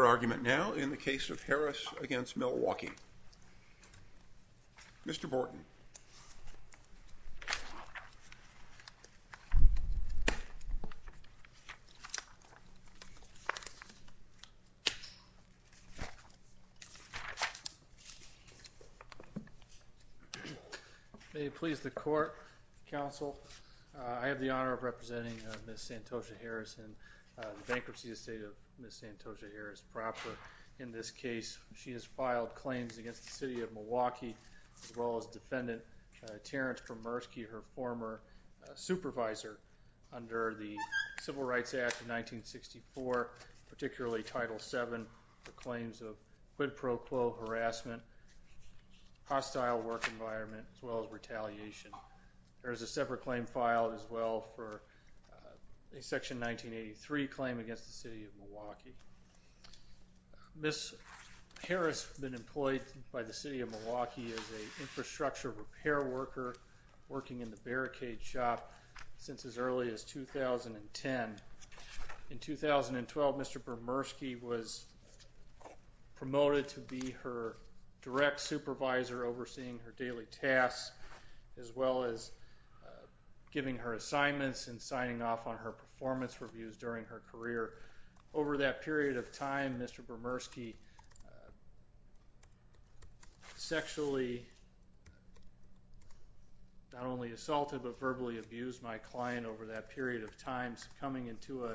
Your argument now in the case of Harris v. Milwaukee. Mr. Borton May it please the court, counsel, I have the honor of representing Ms. Santosha Harris and the Bankruptcy Estate of Ms. Santosha Harris proper in this case. She has filed claims against the City of Milwaukee as well as Defendant Terence Kramerski, her former supervisor under the Civil Rights Act of 1964, particularly Title VII, for claims of quid pro quo harassment, hostile work environment, as well as retaliation. There is a separate claim filed as well for a Section 1983 claim against the City of Milwaukee. Ms. Harris has been employed by the City of Milwaukee as an infrastructure repair worker working in the barricade shop since as early as 2010. In 2012, Mr. Bromerski was promoted to be her direct supervisor overseeing her daily tasks as well as giving her assignments and signing off on her performance reviews during her career. Over that period of time, Mr. Bromerski sexually, not only assaulted, but verbally abused my client over that period of time, succumbing to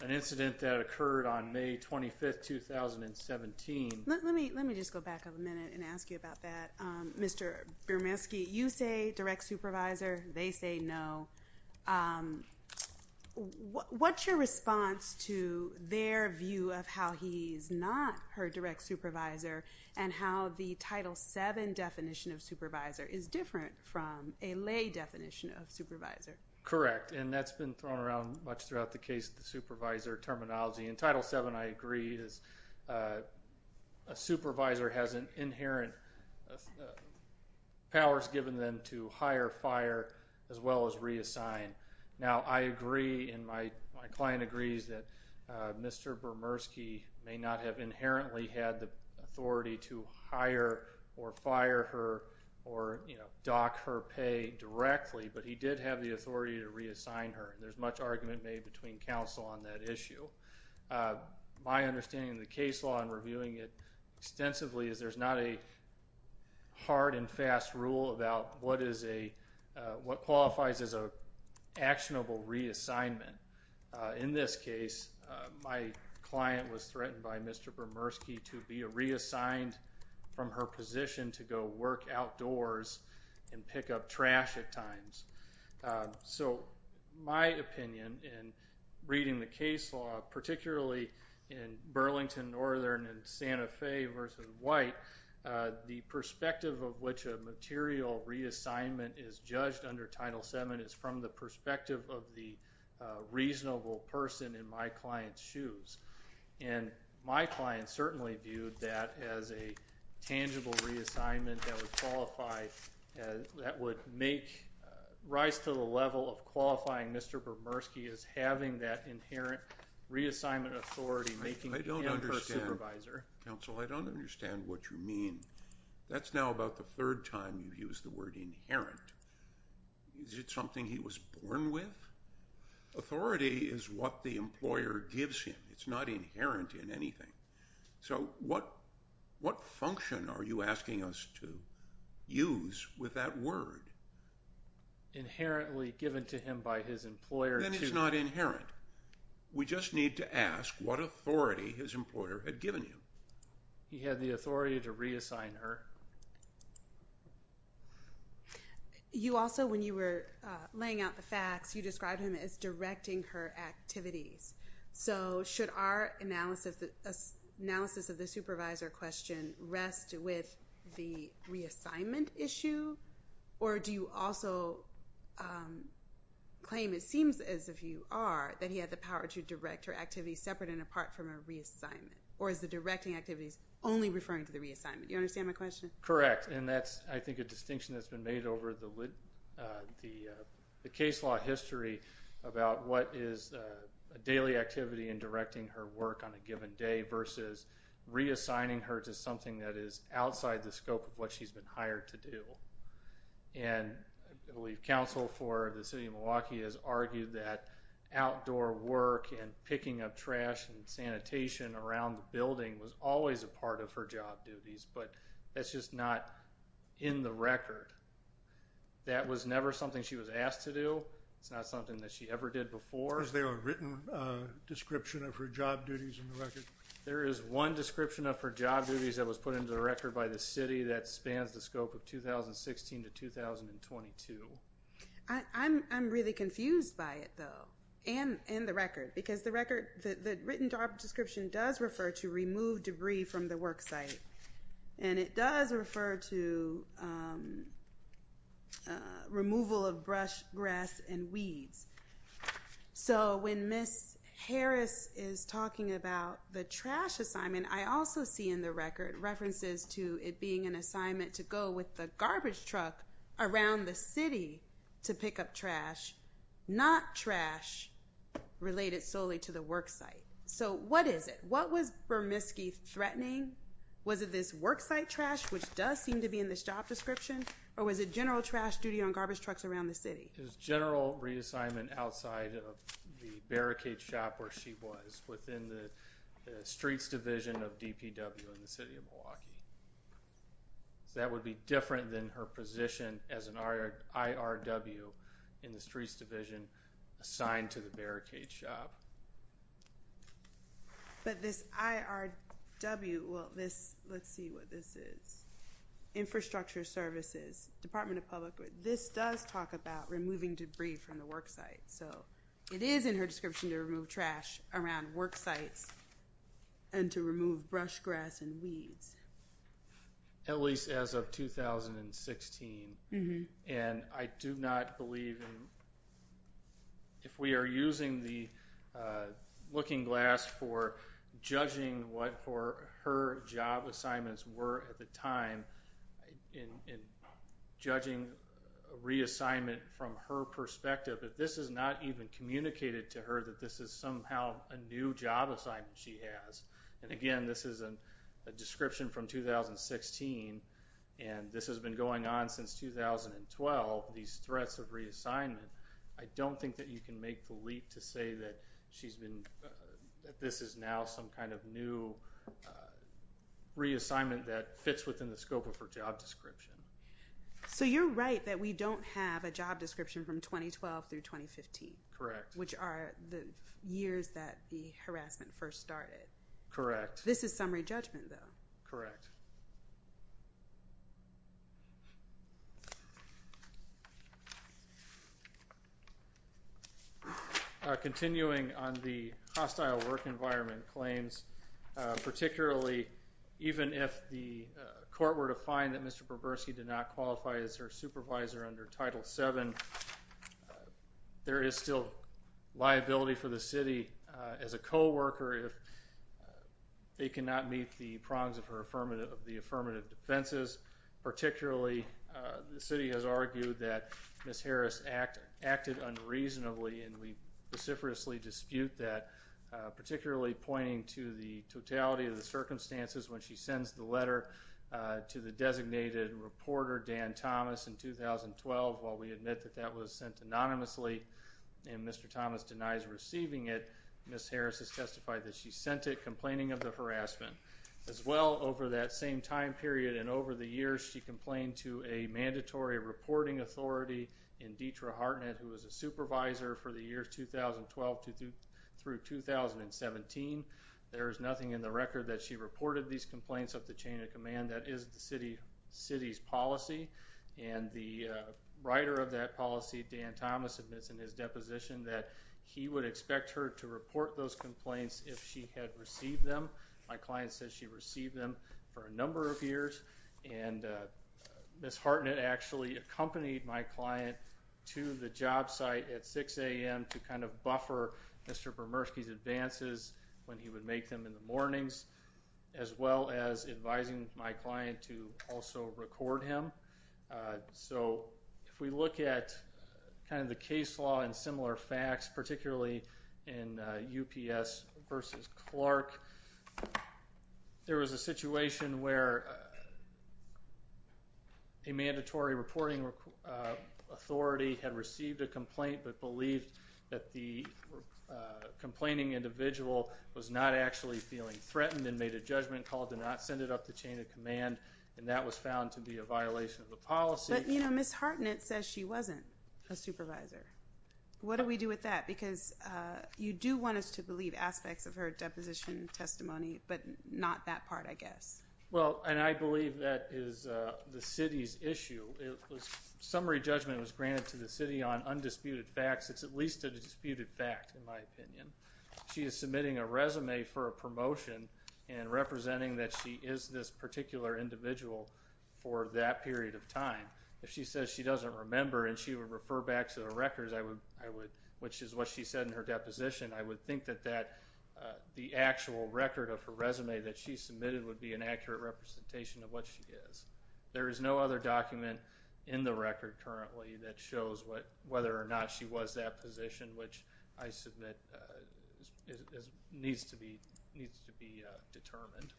an incident that occurred on May 25, 2017. Let me just go back a minute and ask you about that. Mr. Bromerski, you say direct supervisor, they say no. What's your response to their view of how he's not her direct supervisor and how the Title VII definition of supervisor is different from a lay definition of supervisor? Correct. That's been thrown around much throughout the case of the supervisor terminology. In Title VII, I agree, a supervisor has inherent powers given them to hire, fire, as well as reassign. Now, I agree and my client agrees that Mr. Bromerski may not have inherently had the authority to hire or fire her or dock her pay directly, but he did have the authority to reassign her. There's much argument made between counsel on that issue. My understanding of the case law and reviewing it extensively is there's not a hard and fast rule about what qualifies as an actionable reassignment. In this case, my client was threatened by Mr. Bromerski to be reassigned from her position to go work outdoors and pick up trash at times. So, my opinion in reading the case law, particularly in Burlington Northern and Santa Fe versus White, the perspective of which a material reassignment is judged under Title VII is from the perspective of the reasonable person in my client's shoes. And my client certainly viewed that as a tangible reassignment that would qualify, that would make, rise to the level of qualifying Mr. Bromerski as having that inherent reassignment authority making him her supervisor. I don't understand. Counsel, I don't understand what you mean. That's now about the third time you've used the word inherent. Is it something he was born with? Authority is what the employer gives him. It's not inherent in anything. So, what function are you asking us to use with that word? Inherently given to him by his employer to... Then it's not inherent. We just need to ask what authority his employer had given him. He had the authority to reassign her. You also, when you were laying out the facts, you described him as directing her activities. So, should our analysis of the supervisor question rest with the reassignment issue? Or do you also claim, it seems as if you are, that he had the power to direct her activities separate and apart from a reassignment? Or is the directing activities only referring to the reassignment? Do you understand my question? Correct. And that's, I think, a distinction that's been made over the case law history about what is a daily activity in directing her work on a given day versus reassigning her to something that is outside the scope of what she's been hired to do. And I believe counsel for the city of Milwaukee has argued that outdoor work and picking up trash and sanitation around the building was always a part of her job duties. But that's just not in the record. That was never something she was asked to do. It's not something that she ever did before. Is there a written description of her job duties in the record? There is one description of her job duties that was put into the record by the city that spans the scope of 2016 to 2022. I'm really confused by it, though, and the record. Because the written job description does refer to remove debris from the work site. And it does refer to removal of brush, grass, and weeds. So when Ms. Harris is talking about the trash assignment, I also see in the record references to it being an assignment to go with the garbage truck around the city to pick up trash, not trash related solely to the work site. So what is it? What was Berminski threatening? Was it this work site trash, which does seem to be in this job description, or was it general trash duty on garbage trucks around the city? It was general reassignment outside of the barricade shop where she was within the streets division of DPW in the city of Milwaukee. That would be different than her position as an IRW in the streets division assigned to the barricade shop. But this IRW, well, this, let's see what this is, Infrastructure Services, Department of Public Works, this does talk about removing debris from the work site. So it is in her description to remove trash around work sites and to remove brush, grass, and weeds. At least as of 2016, and I do not believe, if we are using the looking glass for judging what her job assignments were at the time, in judging reassignment from her perspective, that this is not even communicated to her that this is somehow a new job assignment she has. And again, this is a description from 2016, and this has been going on since 2012, these threats of reassignment. I don't think that you can make the leap to say that this is now some kind of new reassignment that fits within the scope of her job description. So you're right that we don't have a job description from 2012 through 2015, which are the years that the harassment first started. Correct. This is summary judgment, though. Correct. Continuing on the hostile work environment claims, particularly even if the court were to find that Mr. Proversi did not qualify as her supervisor under Title VII, there is still liability for the city as a co-worker if they cannot meet the prongs of the affirmative defenses. Particularly, the city has argued that Ms. Harris acted unreasonably, and we vociferously dispute that, particularly pointing to the totality of the circumstances when she sends the letter to the designated reporter, Dan Thomas, in 2012, while we admit that that letter was sent anonymously and Mr. Thomas denies receiving it, Ms. Harris has testified that she sent it, complaining of the harassment. As well, over that same time period and over the years, she complained to a mandatory reporting authority in Deitra Hartnett, who was a supervisor for the years 2012 through 2017. There is nothing in the record that she reported these complaints up the chain of command. That is the city's policy, and the writer of that policy, Dan Thomas, admits in his deposition that he would expect her to report those complaints if she had received them. My client says she received them for a number of years, and Ms. Hartnett actually accompanied my client to the job site at 6 a.m. to kind of buffer Mr. Proversi's advances when he would make them in the mornings, as well as advising my client to also record him. So if we look at kind of the case law and similar facts, particularly in UPS v. Clark, there was a situation where a mandatory reporting authority had received a complaint but believed that the complaining individual was not actually feeling threatened and made a judgment call to not send it up the chain of command, and that was found to be a violation of the policy. But, you know, Ms. Hartnett says she wasn't a supervisor. What do we do with that? Because you do want us to believe aspects of her deposition testimony, but not that part, I guess. Well, and I believe that is the city's issue. Summary judgment was granted to the city on undisputed facts. It's at least a disputed fact, in my opinion. She is submitting a resume for a promotion and representing that she is this particular individual for that period of time. If she says she doesn't remember and she would refer back to the records, which is what she said in her deposition, I would think that the actual record of her resume that she submitted would be an accurate representation of what she is. There is no other document in the record currently that shows whether or not she was that position, which I submit needs to be determined.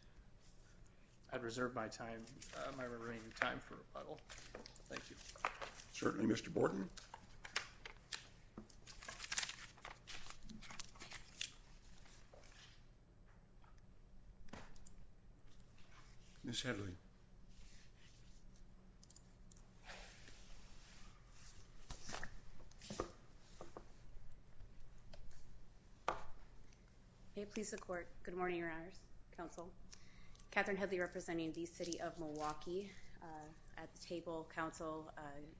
I'd reserve my time, my remaining time for rebuttal. Thank you. Certainly, Mr. Borton. Ms. Hedley. May it please the Court. Good morning, Your Honors. Counsel. Katherine Hedley representing the City of Milwaukee at the table. Counsel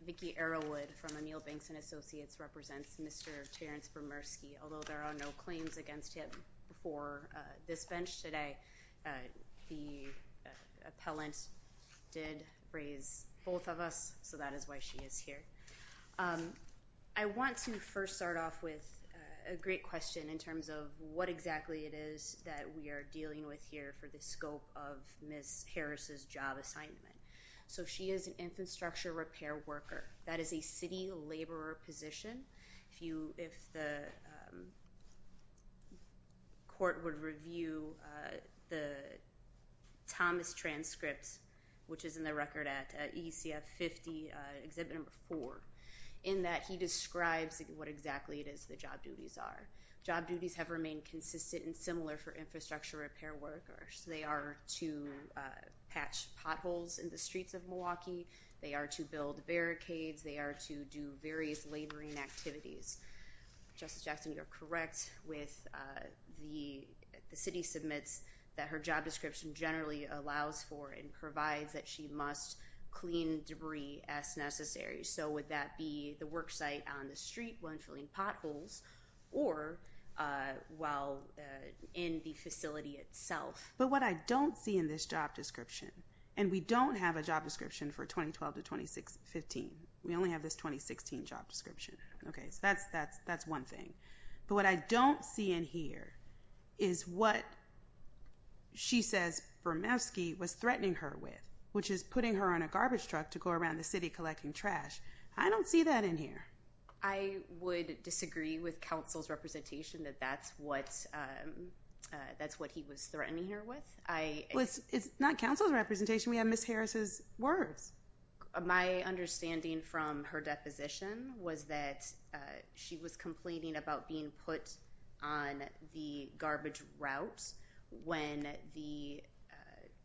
Vicki Arrowood from O'Neill Banks and Associates represents Mr. Terrence Bromerski. Although there are no claims against him before this bench today, the appellant did raise both of us, so that is why she is here. I want to first start off with a great question in terms of what exactly it is that we are dealing with here for the scope of Ms. Harris's job assignment. She is an infrastructure repair worker. That is a city laborer position. If the court would review the Thomas transcript, which is in the record at ECF 50, Exhibit 4, in that he describes what exactly it is the job duties are. Job duties have remained consistent and similar for infrastructure repair workers. They are to patch potholes in the streets of Milwaukee. They are to build barricades. They are to do various laboring activities. Justice Jackson, you are correct with the city submits that her job description generally allows for and provides that she must clean debris as necessary. Would that be the work site on the street when filling potholes or while in the facility itself? What I don't see in this job description, and we don't have a job description for 2012 to 2015. We only have this 2016 job description. That is one thing. What I don't see in here is what she says Bromerski was threatening her with, which I don't see that in here. I would disagree with counsel's representation that that's what he was threatening her with. It's not counsel's representation. We have Ms. Harris's words. My understanding from her deposition was that she was complaining about being put on the garbage route when the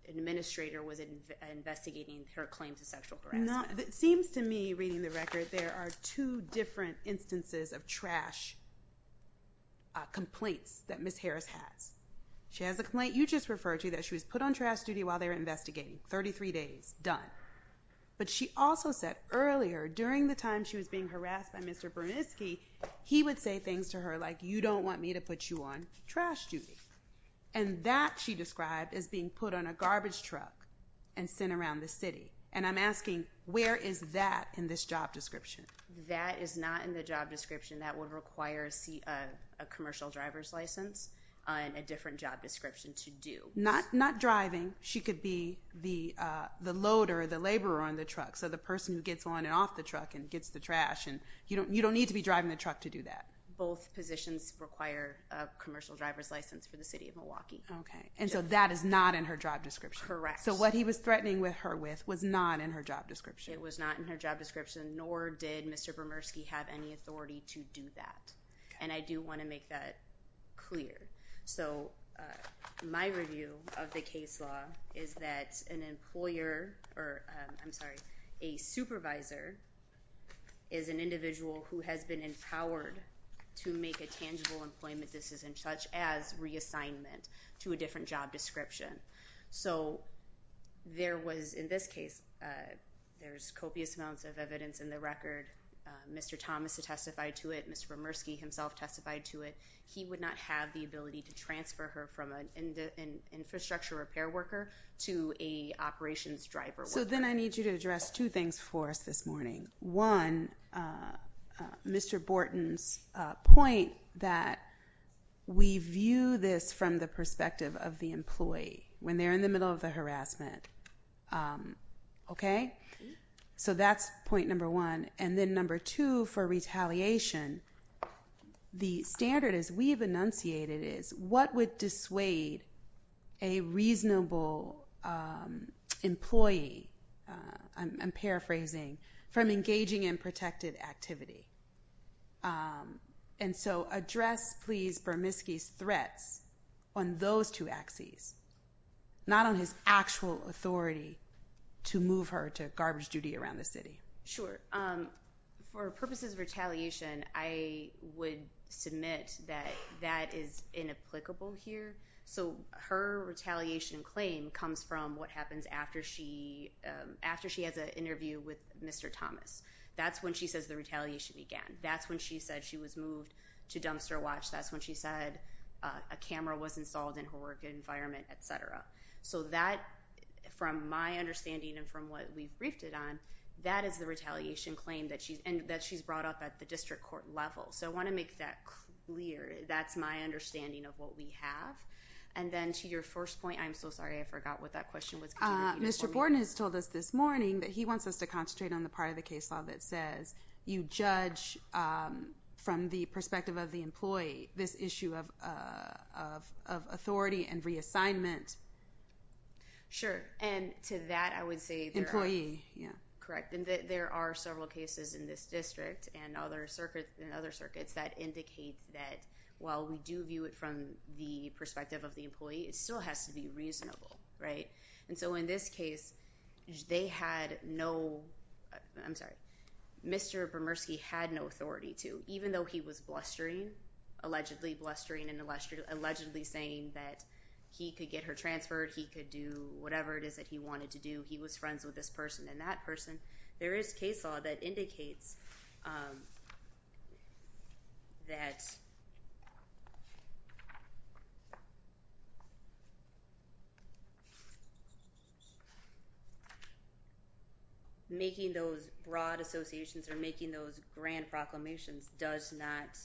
administrator was investigating her claims of sexual harassment. It seems to me reading the record there are two different instances of trash complaints that Ms. Harris has. She has a complaint you just referred to that she was put on trash duty while they were investigating. 33 days. Done. But she also said earlier during the time she was being harassed by Mr. Bromerski, he would say things to her like, you don't want me to put you on trash duty. And that she described as being put on a garbage truck and sent around the city. And I'm asking, where is that in this job description? That is not in the job description. That would require a commercial driver's license and a different job description to do. Not driving. She could be the loader, the laborer on the truck, so the person who gets on and off the truck and gets the trash. You don't need to be driving the truck to do that. Both positions require a commercial driver's license for the city of Milwaukee. Okay. And so that is not in her job description. Correct. So what he was threatening her with was not in her job description. It was not in her job description, nor did Mr. Bromerski have any authority to do that. Okay. And I do want to make that clear. So my review of the case law is that an employer, or I'm sorry, a supervisor is an individual who has been empowered to make a tangible employment decision such as reassignment to a different job description. So there was, in this case, there's copious amounts of evidence in the record. Mr. Thomas has testified to it. Mr. Bromerski himself testified to it. He would not have the ability to transfer her from an infrastructure repair worker to an operations driver worker. So then I need you to address two things for us this morning. One, Mr. Borton's point that we view this from the perspective of the employee when they're in the middle of the harassment. Okay? So that's point number one. And then number two for retaliation, the standard as we've enunciated is what would dissuade a reasonable employee, I'm paraphrasing, from engaging in protected activity. And so address, please, Bromerski's threats on those two axes, not on his actual authority to move her to garbage duty around the city. Sure. For purposes of retaliation, I would submit that that is inapplicable here. So her retaliation claim comes from what happens after she has an interview with Mr. Thomas. That's when she says the retaliation began. That's when she said she was moved to dumpster watch. That's when she said a camera was installed in her work environment, et cetera. So that, from my understanding and from what we've briefed it on, that is the retaliation claim that she's brought up at the district court level. So I want to make that clear. That's my understanding of what we have. And then to your first point, I'm so sorry, I forgot what that question was. Mr. Borton has told us this morning that he wants us to concentrate on the part of the case law that says you judge from the perspective of the employee this issue of authority and the assignment. Sure. And to that, I would say employee. Yeah, correct. And there are several cases in this district and other circuits and other circuits that indicate that while we do view it from the perspective of the employee, it still has to be reasonable. Right. And so in this case, they had no I'm sorry, Mr. Bermersky had no authority to even though he was blustering, allegedly blustering and allegedly saying that he could get her transferred, he could do whatever it is that he wanted to do. He was friends with this person and that person. There is case law that indicates that making those broad associations or making those grand proclamations does not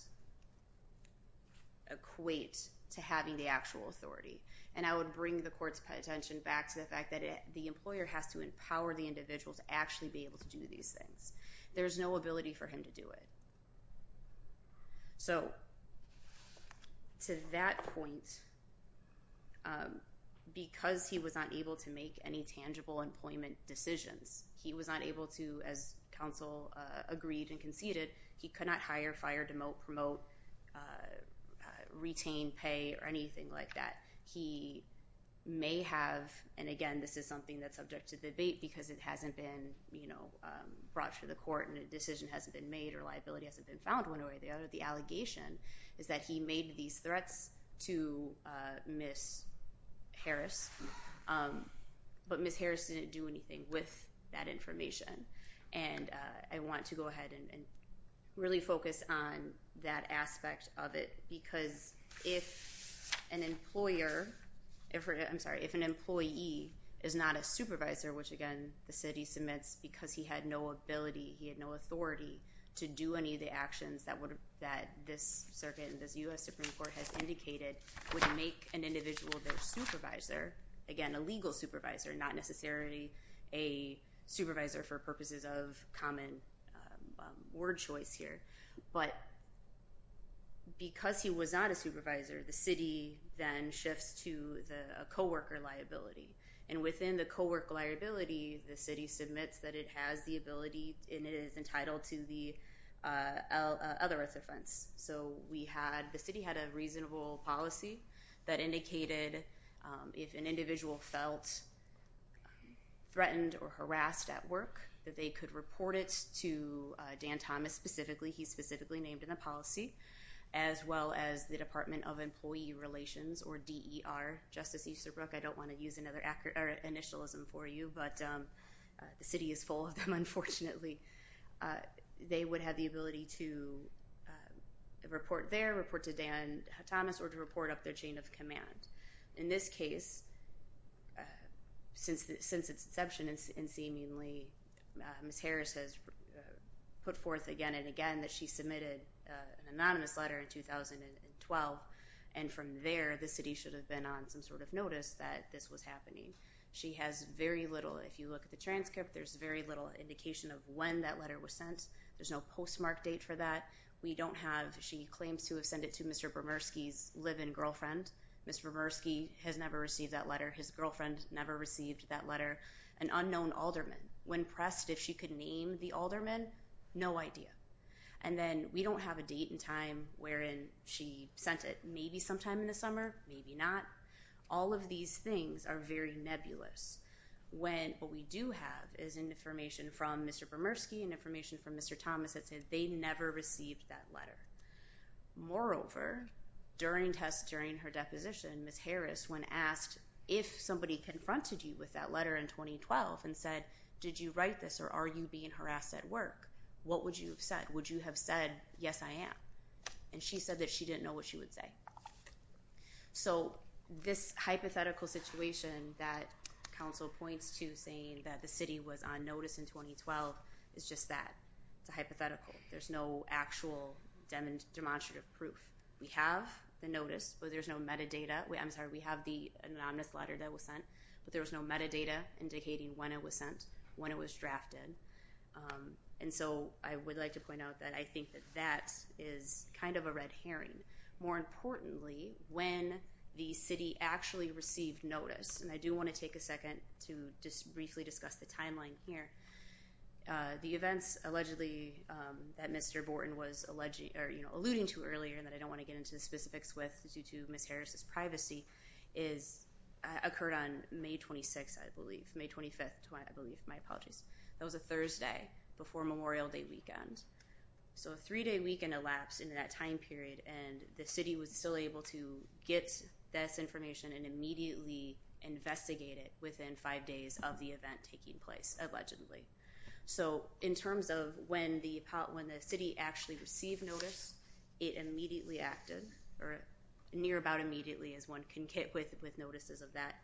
equate to having the actual authority. And I would bring the court's attention back to the fact that the employer has to empower the individual to actually be able to do these things. There is no ability for him to do it. So to that point, because he was not able to make any tangible employment decisions, he was not able to, as counsel agreed and conceded, he could not hire, fire, demote, promote, retain, pay or anything like that. He may have. And again, this is something that's subject to debate because it hasn't been brought to the court and a decision hasn't been made or liability hasn't been found one way or the other. The allegation is that he made these threats to Miss Harris, but Miss Harris didn't do anything with that information. And I want to go ahead and really focus on that aspect of it because if an employer, I'm sorry, if an employee is not a supervisor, which again, the city submits because he had no ability, he had no authority to do any of the actions that this circuit and this U.S. Supreme Court has indicated would make an individual their supervisor, again, a legal supervisor, not necessarily a supervisor for purposes of common word choice here. But because he was not a supervisor, the city then shifts to the coworker liability. And within the coworker liability, the city submits that it has the ability and it is entitled to the other offense. So the city had a reasonable policy that indicated if an individual felt threatened or harassed at work, that they could report it to Dan Thomas specifically. He's specifically named in the policy, as well as the Department of Employee Relations or DER, Justice Easterbrook. I don't want to use another initialism for you, but the city is full of them, unfortunately. They would have the ability to report there, report to Dan Thomas, or to report up their chain of command. In this case, since its inception and seemingly Ms. Harris has put forth again and again that she submitted an anonymous letter in 2012, and from there, the city should have been on some sort of notice that this was happening. She has very little, if you look at the transcript, there's very little indication of when that letter was sent. There's no postmark date for that. We don't have, she claims to have sent it to Mr. Bermersky's live-in girlfriend. Mr. Bermersky has never received that letter. His girlfriend never received that letter. An unknown alderman. When pressed if she could name the alderman, no idea. And then we don't have a date and time wherein she sent it. Maybe sometime in the summer, maybe not. All of these things are very nebulous when what we do have is information from Mr. Bermersky and information from Mr. Thomas that says they never received that letter. Moreover, during her deposition, Ms. Harris, when asked if somebody confronted you with that letter in 2012 and said, did you write this or are you being harassed at work, what would you have said? Would you have said, yes, I am? And she said that she didn't know what she would say. So this hypothetical situation that counsel points to saying that the city was on notice in 2012 is just that. It's a hypothetical. There's no actual demonstrative proof. We have the notice, but there's no metadata. I'm sorry, we have the anonymous letter that was sent, but there was no metadata indicating when it was sent, when it was drafted. And so I would like to point out that I think that that is kind of a red herring. More importantly, when the city actually received notice, and I do want to take a second to just briefly discuss the timeline here. The events allegedly that Mr. Borton was alluding to earlier that I don't want to get into the specifics with due to Ms. Harris's privacy occurred on May 26th, I believe, May 25th, I believe, my apologies. That was a Thursday before Memorial Day weekend. So a three-day weekend elapsed into that time period, and the city was still able to get this information and immediately investigate it within five days of the event taking place, allegedly. So in terms of when the city actually received notice, it immediately acted, or near about immediately, as one can get with notices of that.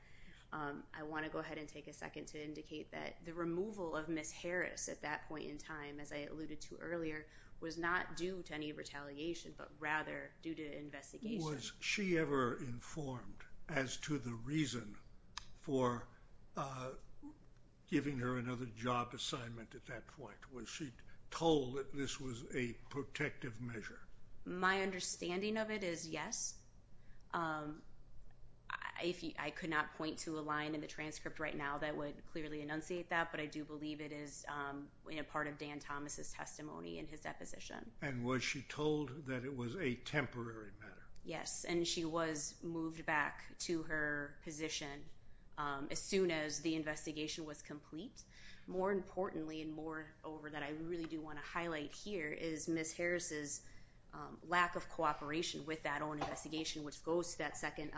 I want to go ahead and take a second to indicate that the removal of Ms. Harris at that point in time, as I alluded to earlier, was not due to any retaliation, but rather due to investigation. Was she ever informed as to the reason for giving her another job assignment at that point? Was she told that this was a protective measure? My understanding of it is yes. I could not point to a line in the transcript right now that would clearly enunciate that, but I do believe it is part of Dan Thomas' testimony in his deposition. And was she told that it was a temporary measure? Yes, and she was moved back to her position as soon as the investigation was complete. More importantly, and moreover that I really do want to highlight here, is Ms. Harris' lack of cooperation with that own investigation, which goes to that second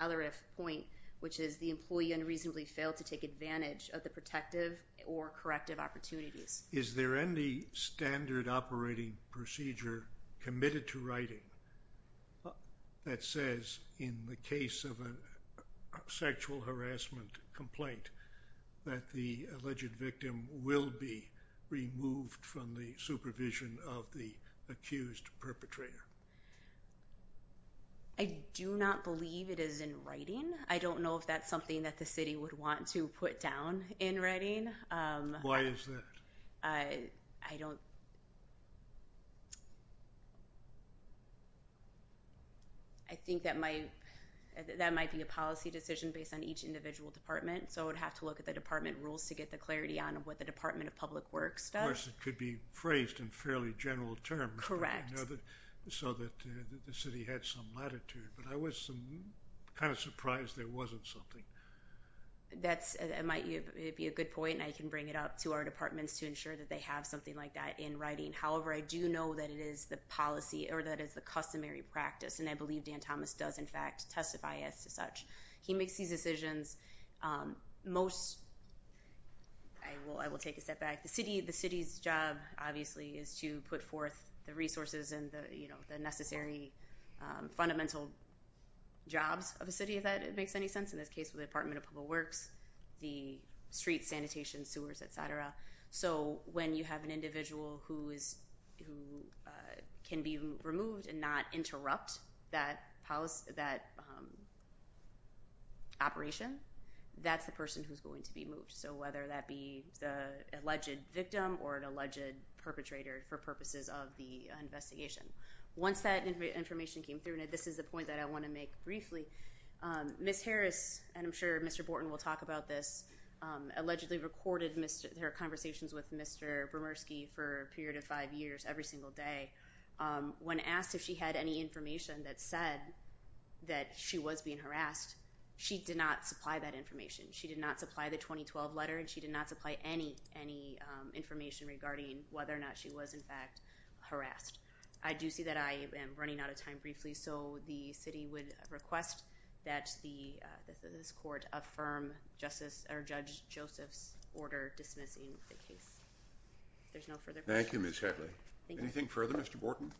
other point, which is the employee unreasonably failed to take advantage of the protective or corrective opportunities. Is there any standard operating procedure committed to writing that says in the case of a sexual harassment complaint that the alleged victim will be removed from the supervision of the accused perpetrator? I do not believe it is in writing. I do not know if that is something that the city would want to put down in writing. Why is that? I think that might be a policy decision based on each individual department, so I would have to look at the department rules to get the clarity on what the Department of Public Works does. Of course, it could be phrased in fairly general terms. Correct. It could be phrased in a way so that the city had some latitude, but I was kind of surprised there wasn't something. That might be a good point, and I can bring it up to our departments to ensure that they have something like that in writing. However, I do know that it is the policy or that it's the customary practice, and I believe Dan Thomas does, in fact, testify as such. He makes these decisions. I will take a step back. The city's job, obviously, is to put forth the resources and the necessary fundamental jobs of the city, if that makes any sense. In this case, the Department of Public Works, the streets, sanitation, sewers, etc. So when you have an individual who can be removed and not interrupt that operation, that's the person who's going to be moved. So whether that be the alleged victim or an alleged perpetrator for purposes of the investigation. Once that information came through, and this is the point that I want to make briefly, Ms. Harris, and I'm sure Mr. Borton will talk about this, allegedly recorded her conversations with Mr. Bromurski for a period of five years, every single day. When asked if she had any information that said that she was being harassed, she did not supply that information. She did not supply the 2012 letter, and she did not supply any information regarding whether or not she was, in fact, harassed. I do see that I am running out of time briefly, so the city would request that this court affirm Judge Joseph's order dismissing the case. If there's no further questions. Thank you, Ms. Headley. Anything further, Mr. Borton? Thank you.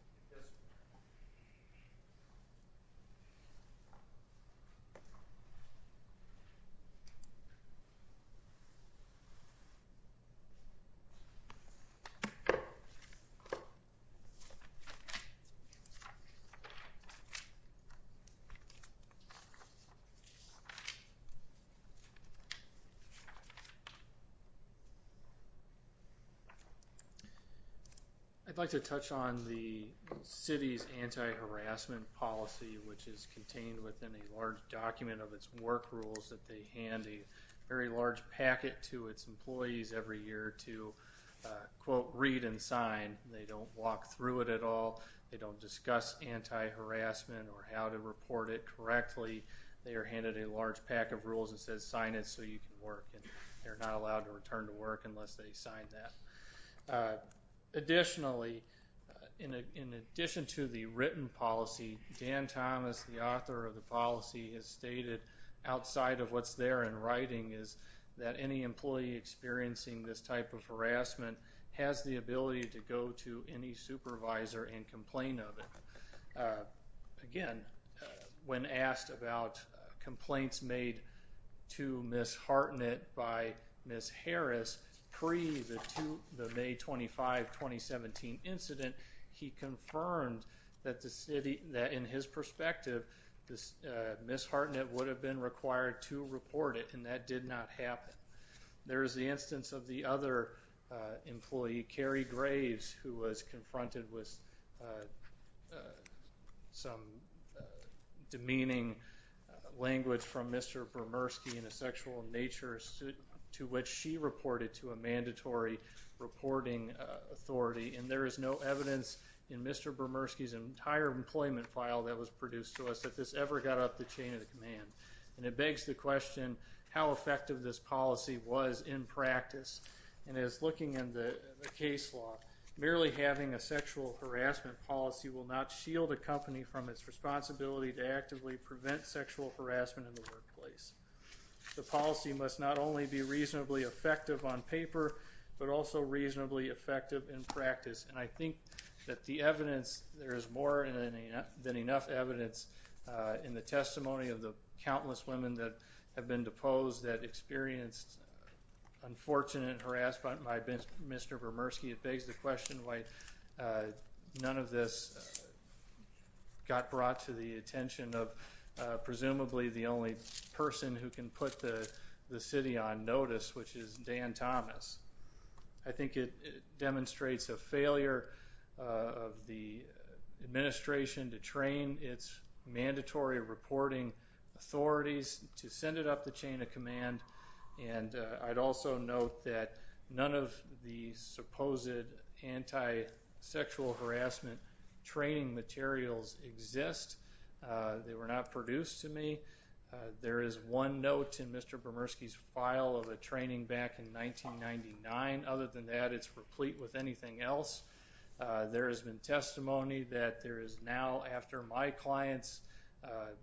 I'd like to touch on the violence against women. The city's anti-harassment policy, which is contained within a large document of its work rules that they hand a very large packet to its employees every year to, quote, read and sign. They don't walk through it at all. They don't discuss anti-harassment or how to report it correctly. They are handed a large pack of rules that says sign it so you can work, and they're not allowed to return to work unless they sign that. Additionally, in addition to the written policy, Dan Thomas, the author of the policy, has stated outside of what's there in writing is that any employee experiencing this type of harassment has the ability to go to any supervisor and complain of it. Again, when asked about complaints made to Ms. Hartnett by Ms. Harris pre the May 25, 2017 incident, he confirmed that in his perspective Ms. Hartnett would have been required to report it, and that did not happen. There is the instance of the other employee, Carrie Graves, who was confronted with some demeaning language from Mr. Bermersky in a sexual nature to which she reported to a mandatory reporting authority, and there is no evidence in Mr. Bermersky's entire employment file that was produced to us that this ever got up the chain of command. And it begs the question, how effective this policy was in practice, and as looking in the case law, merely having a sexual harassment policy will not shield a company from its responsibility to actively prevent sexual harassment in the workplace. The policy must not only be reasonably effective on paper, but also reasonably effective in practice, and I think that the evidence, there is more than enough evidence in the testimony of the countless women that have been deposed that experienced unfortunate harassment by Mr. Bermersky. It begs the question why none of this got brought to the attention of presumably the only person who can put the city on notice, which is Dan Thomas. I think it demonstrates a failure of the administration to train its mandatory reporting authorities to send it up the chain of command, and I'd also note that none of the supposed anti-sexual harassment training materials exist. They were not produced to me. There is one note in Mr. Bermersky's file of a training back in 1999. Other than that, it's replete with anything else. There has been testimony that there is now, after my client's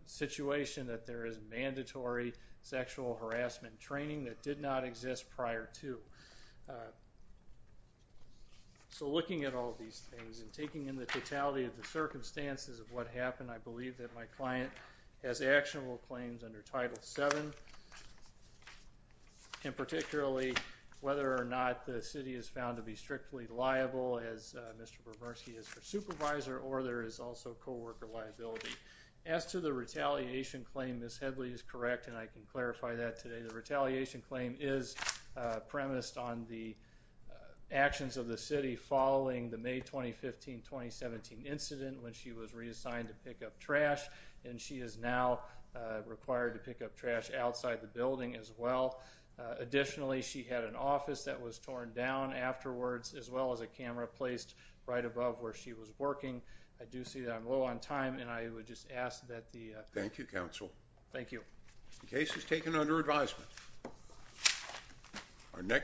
situation, that there is mandatory sexual harassment training that did not exist prior to. So looking at all these things and taking in the totality of the circumstances of what Mr. Bermersky has said, I think it's important to note that there are several claims under Title VII, and particularly whether or not the city is found to be strictly liable, as Mr. Bermersky is her supervisor, or there is also co-worker liability. As to the retaliation claim, Ms. Headley is correct, and I can clarify that today. The retaliation claim is premised on the actions of the city following the May 2015-2017 incident when she was reassigned to pick up trash, and she is now required to pick up trash outside the building as well. Additionally, she had an office that was torn down afterwards, as well as a camera placed right above where she was working. I do see that I'm low on time, and I would just ask that the— Thank you, counsel. Thank you. The case is taken under advisement.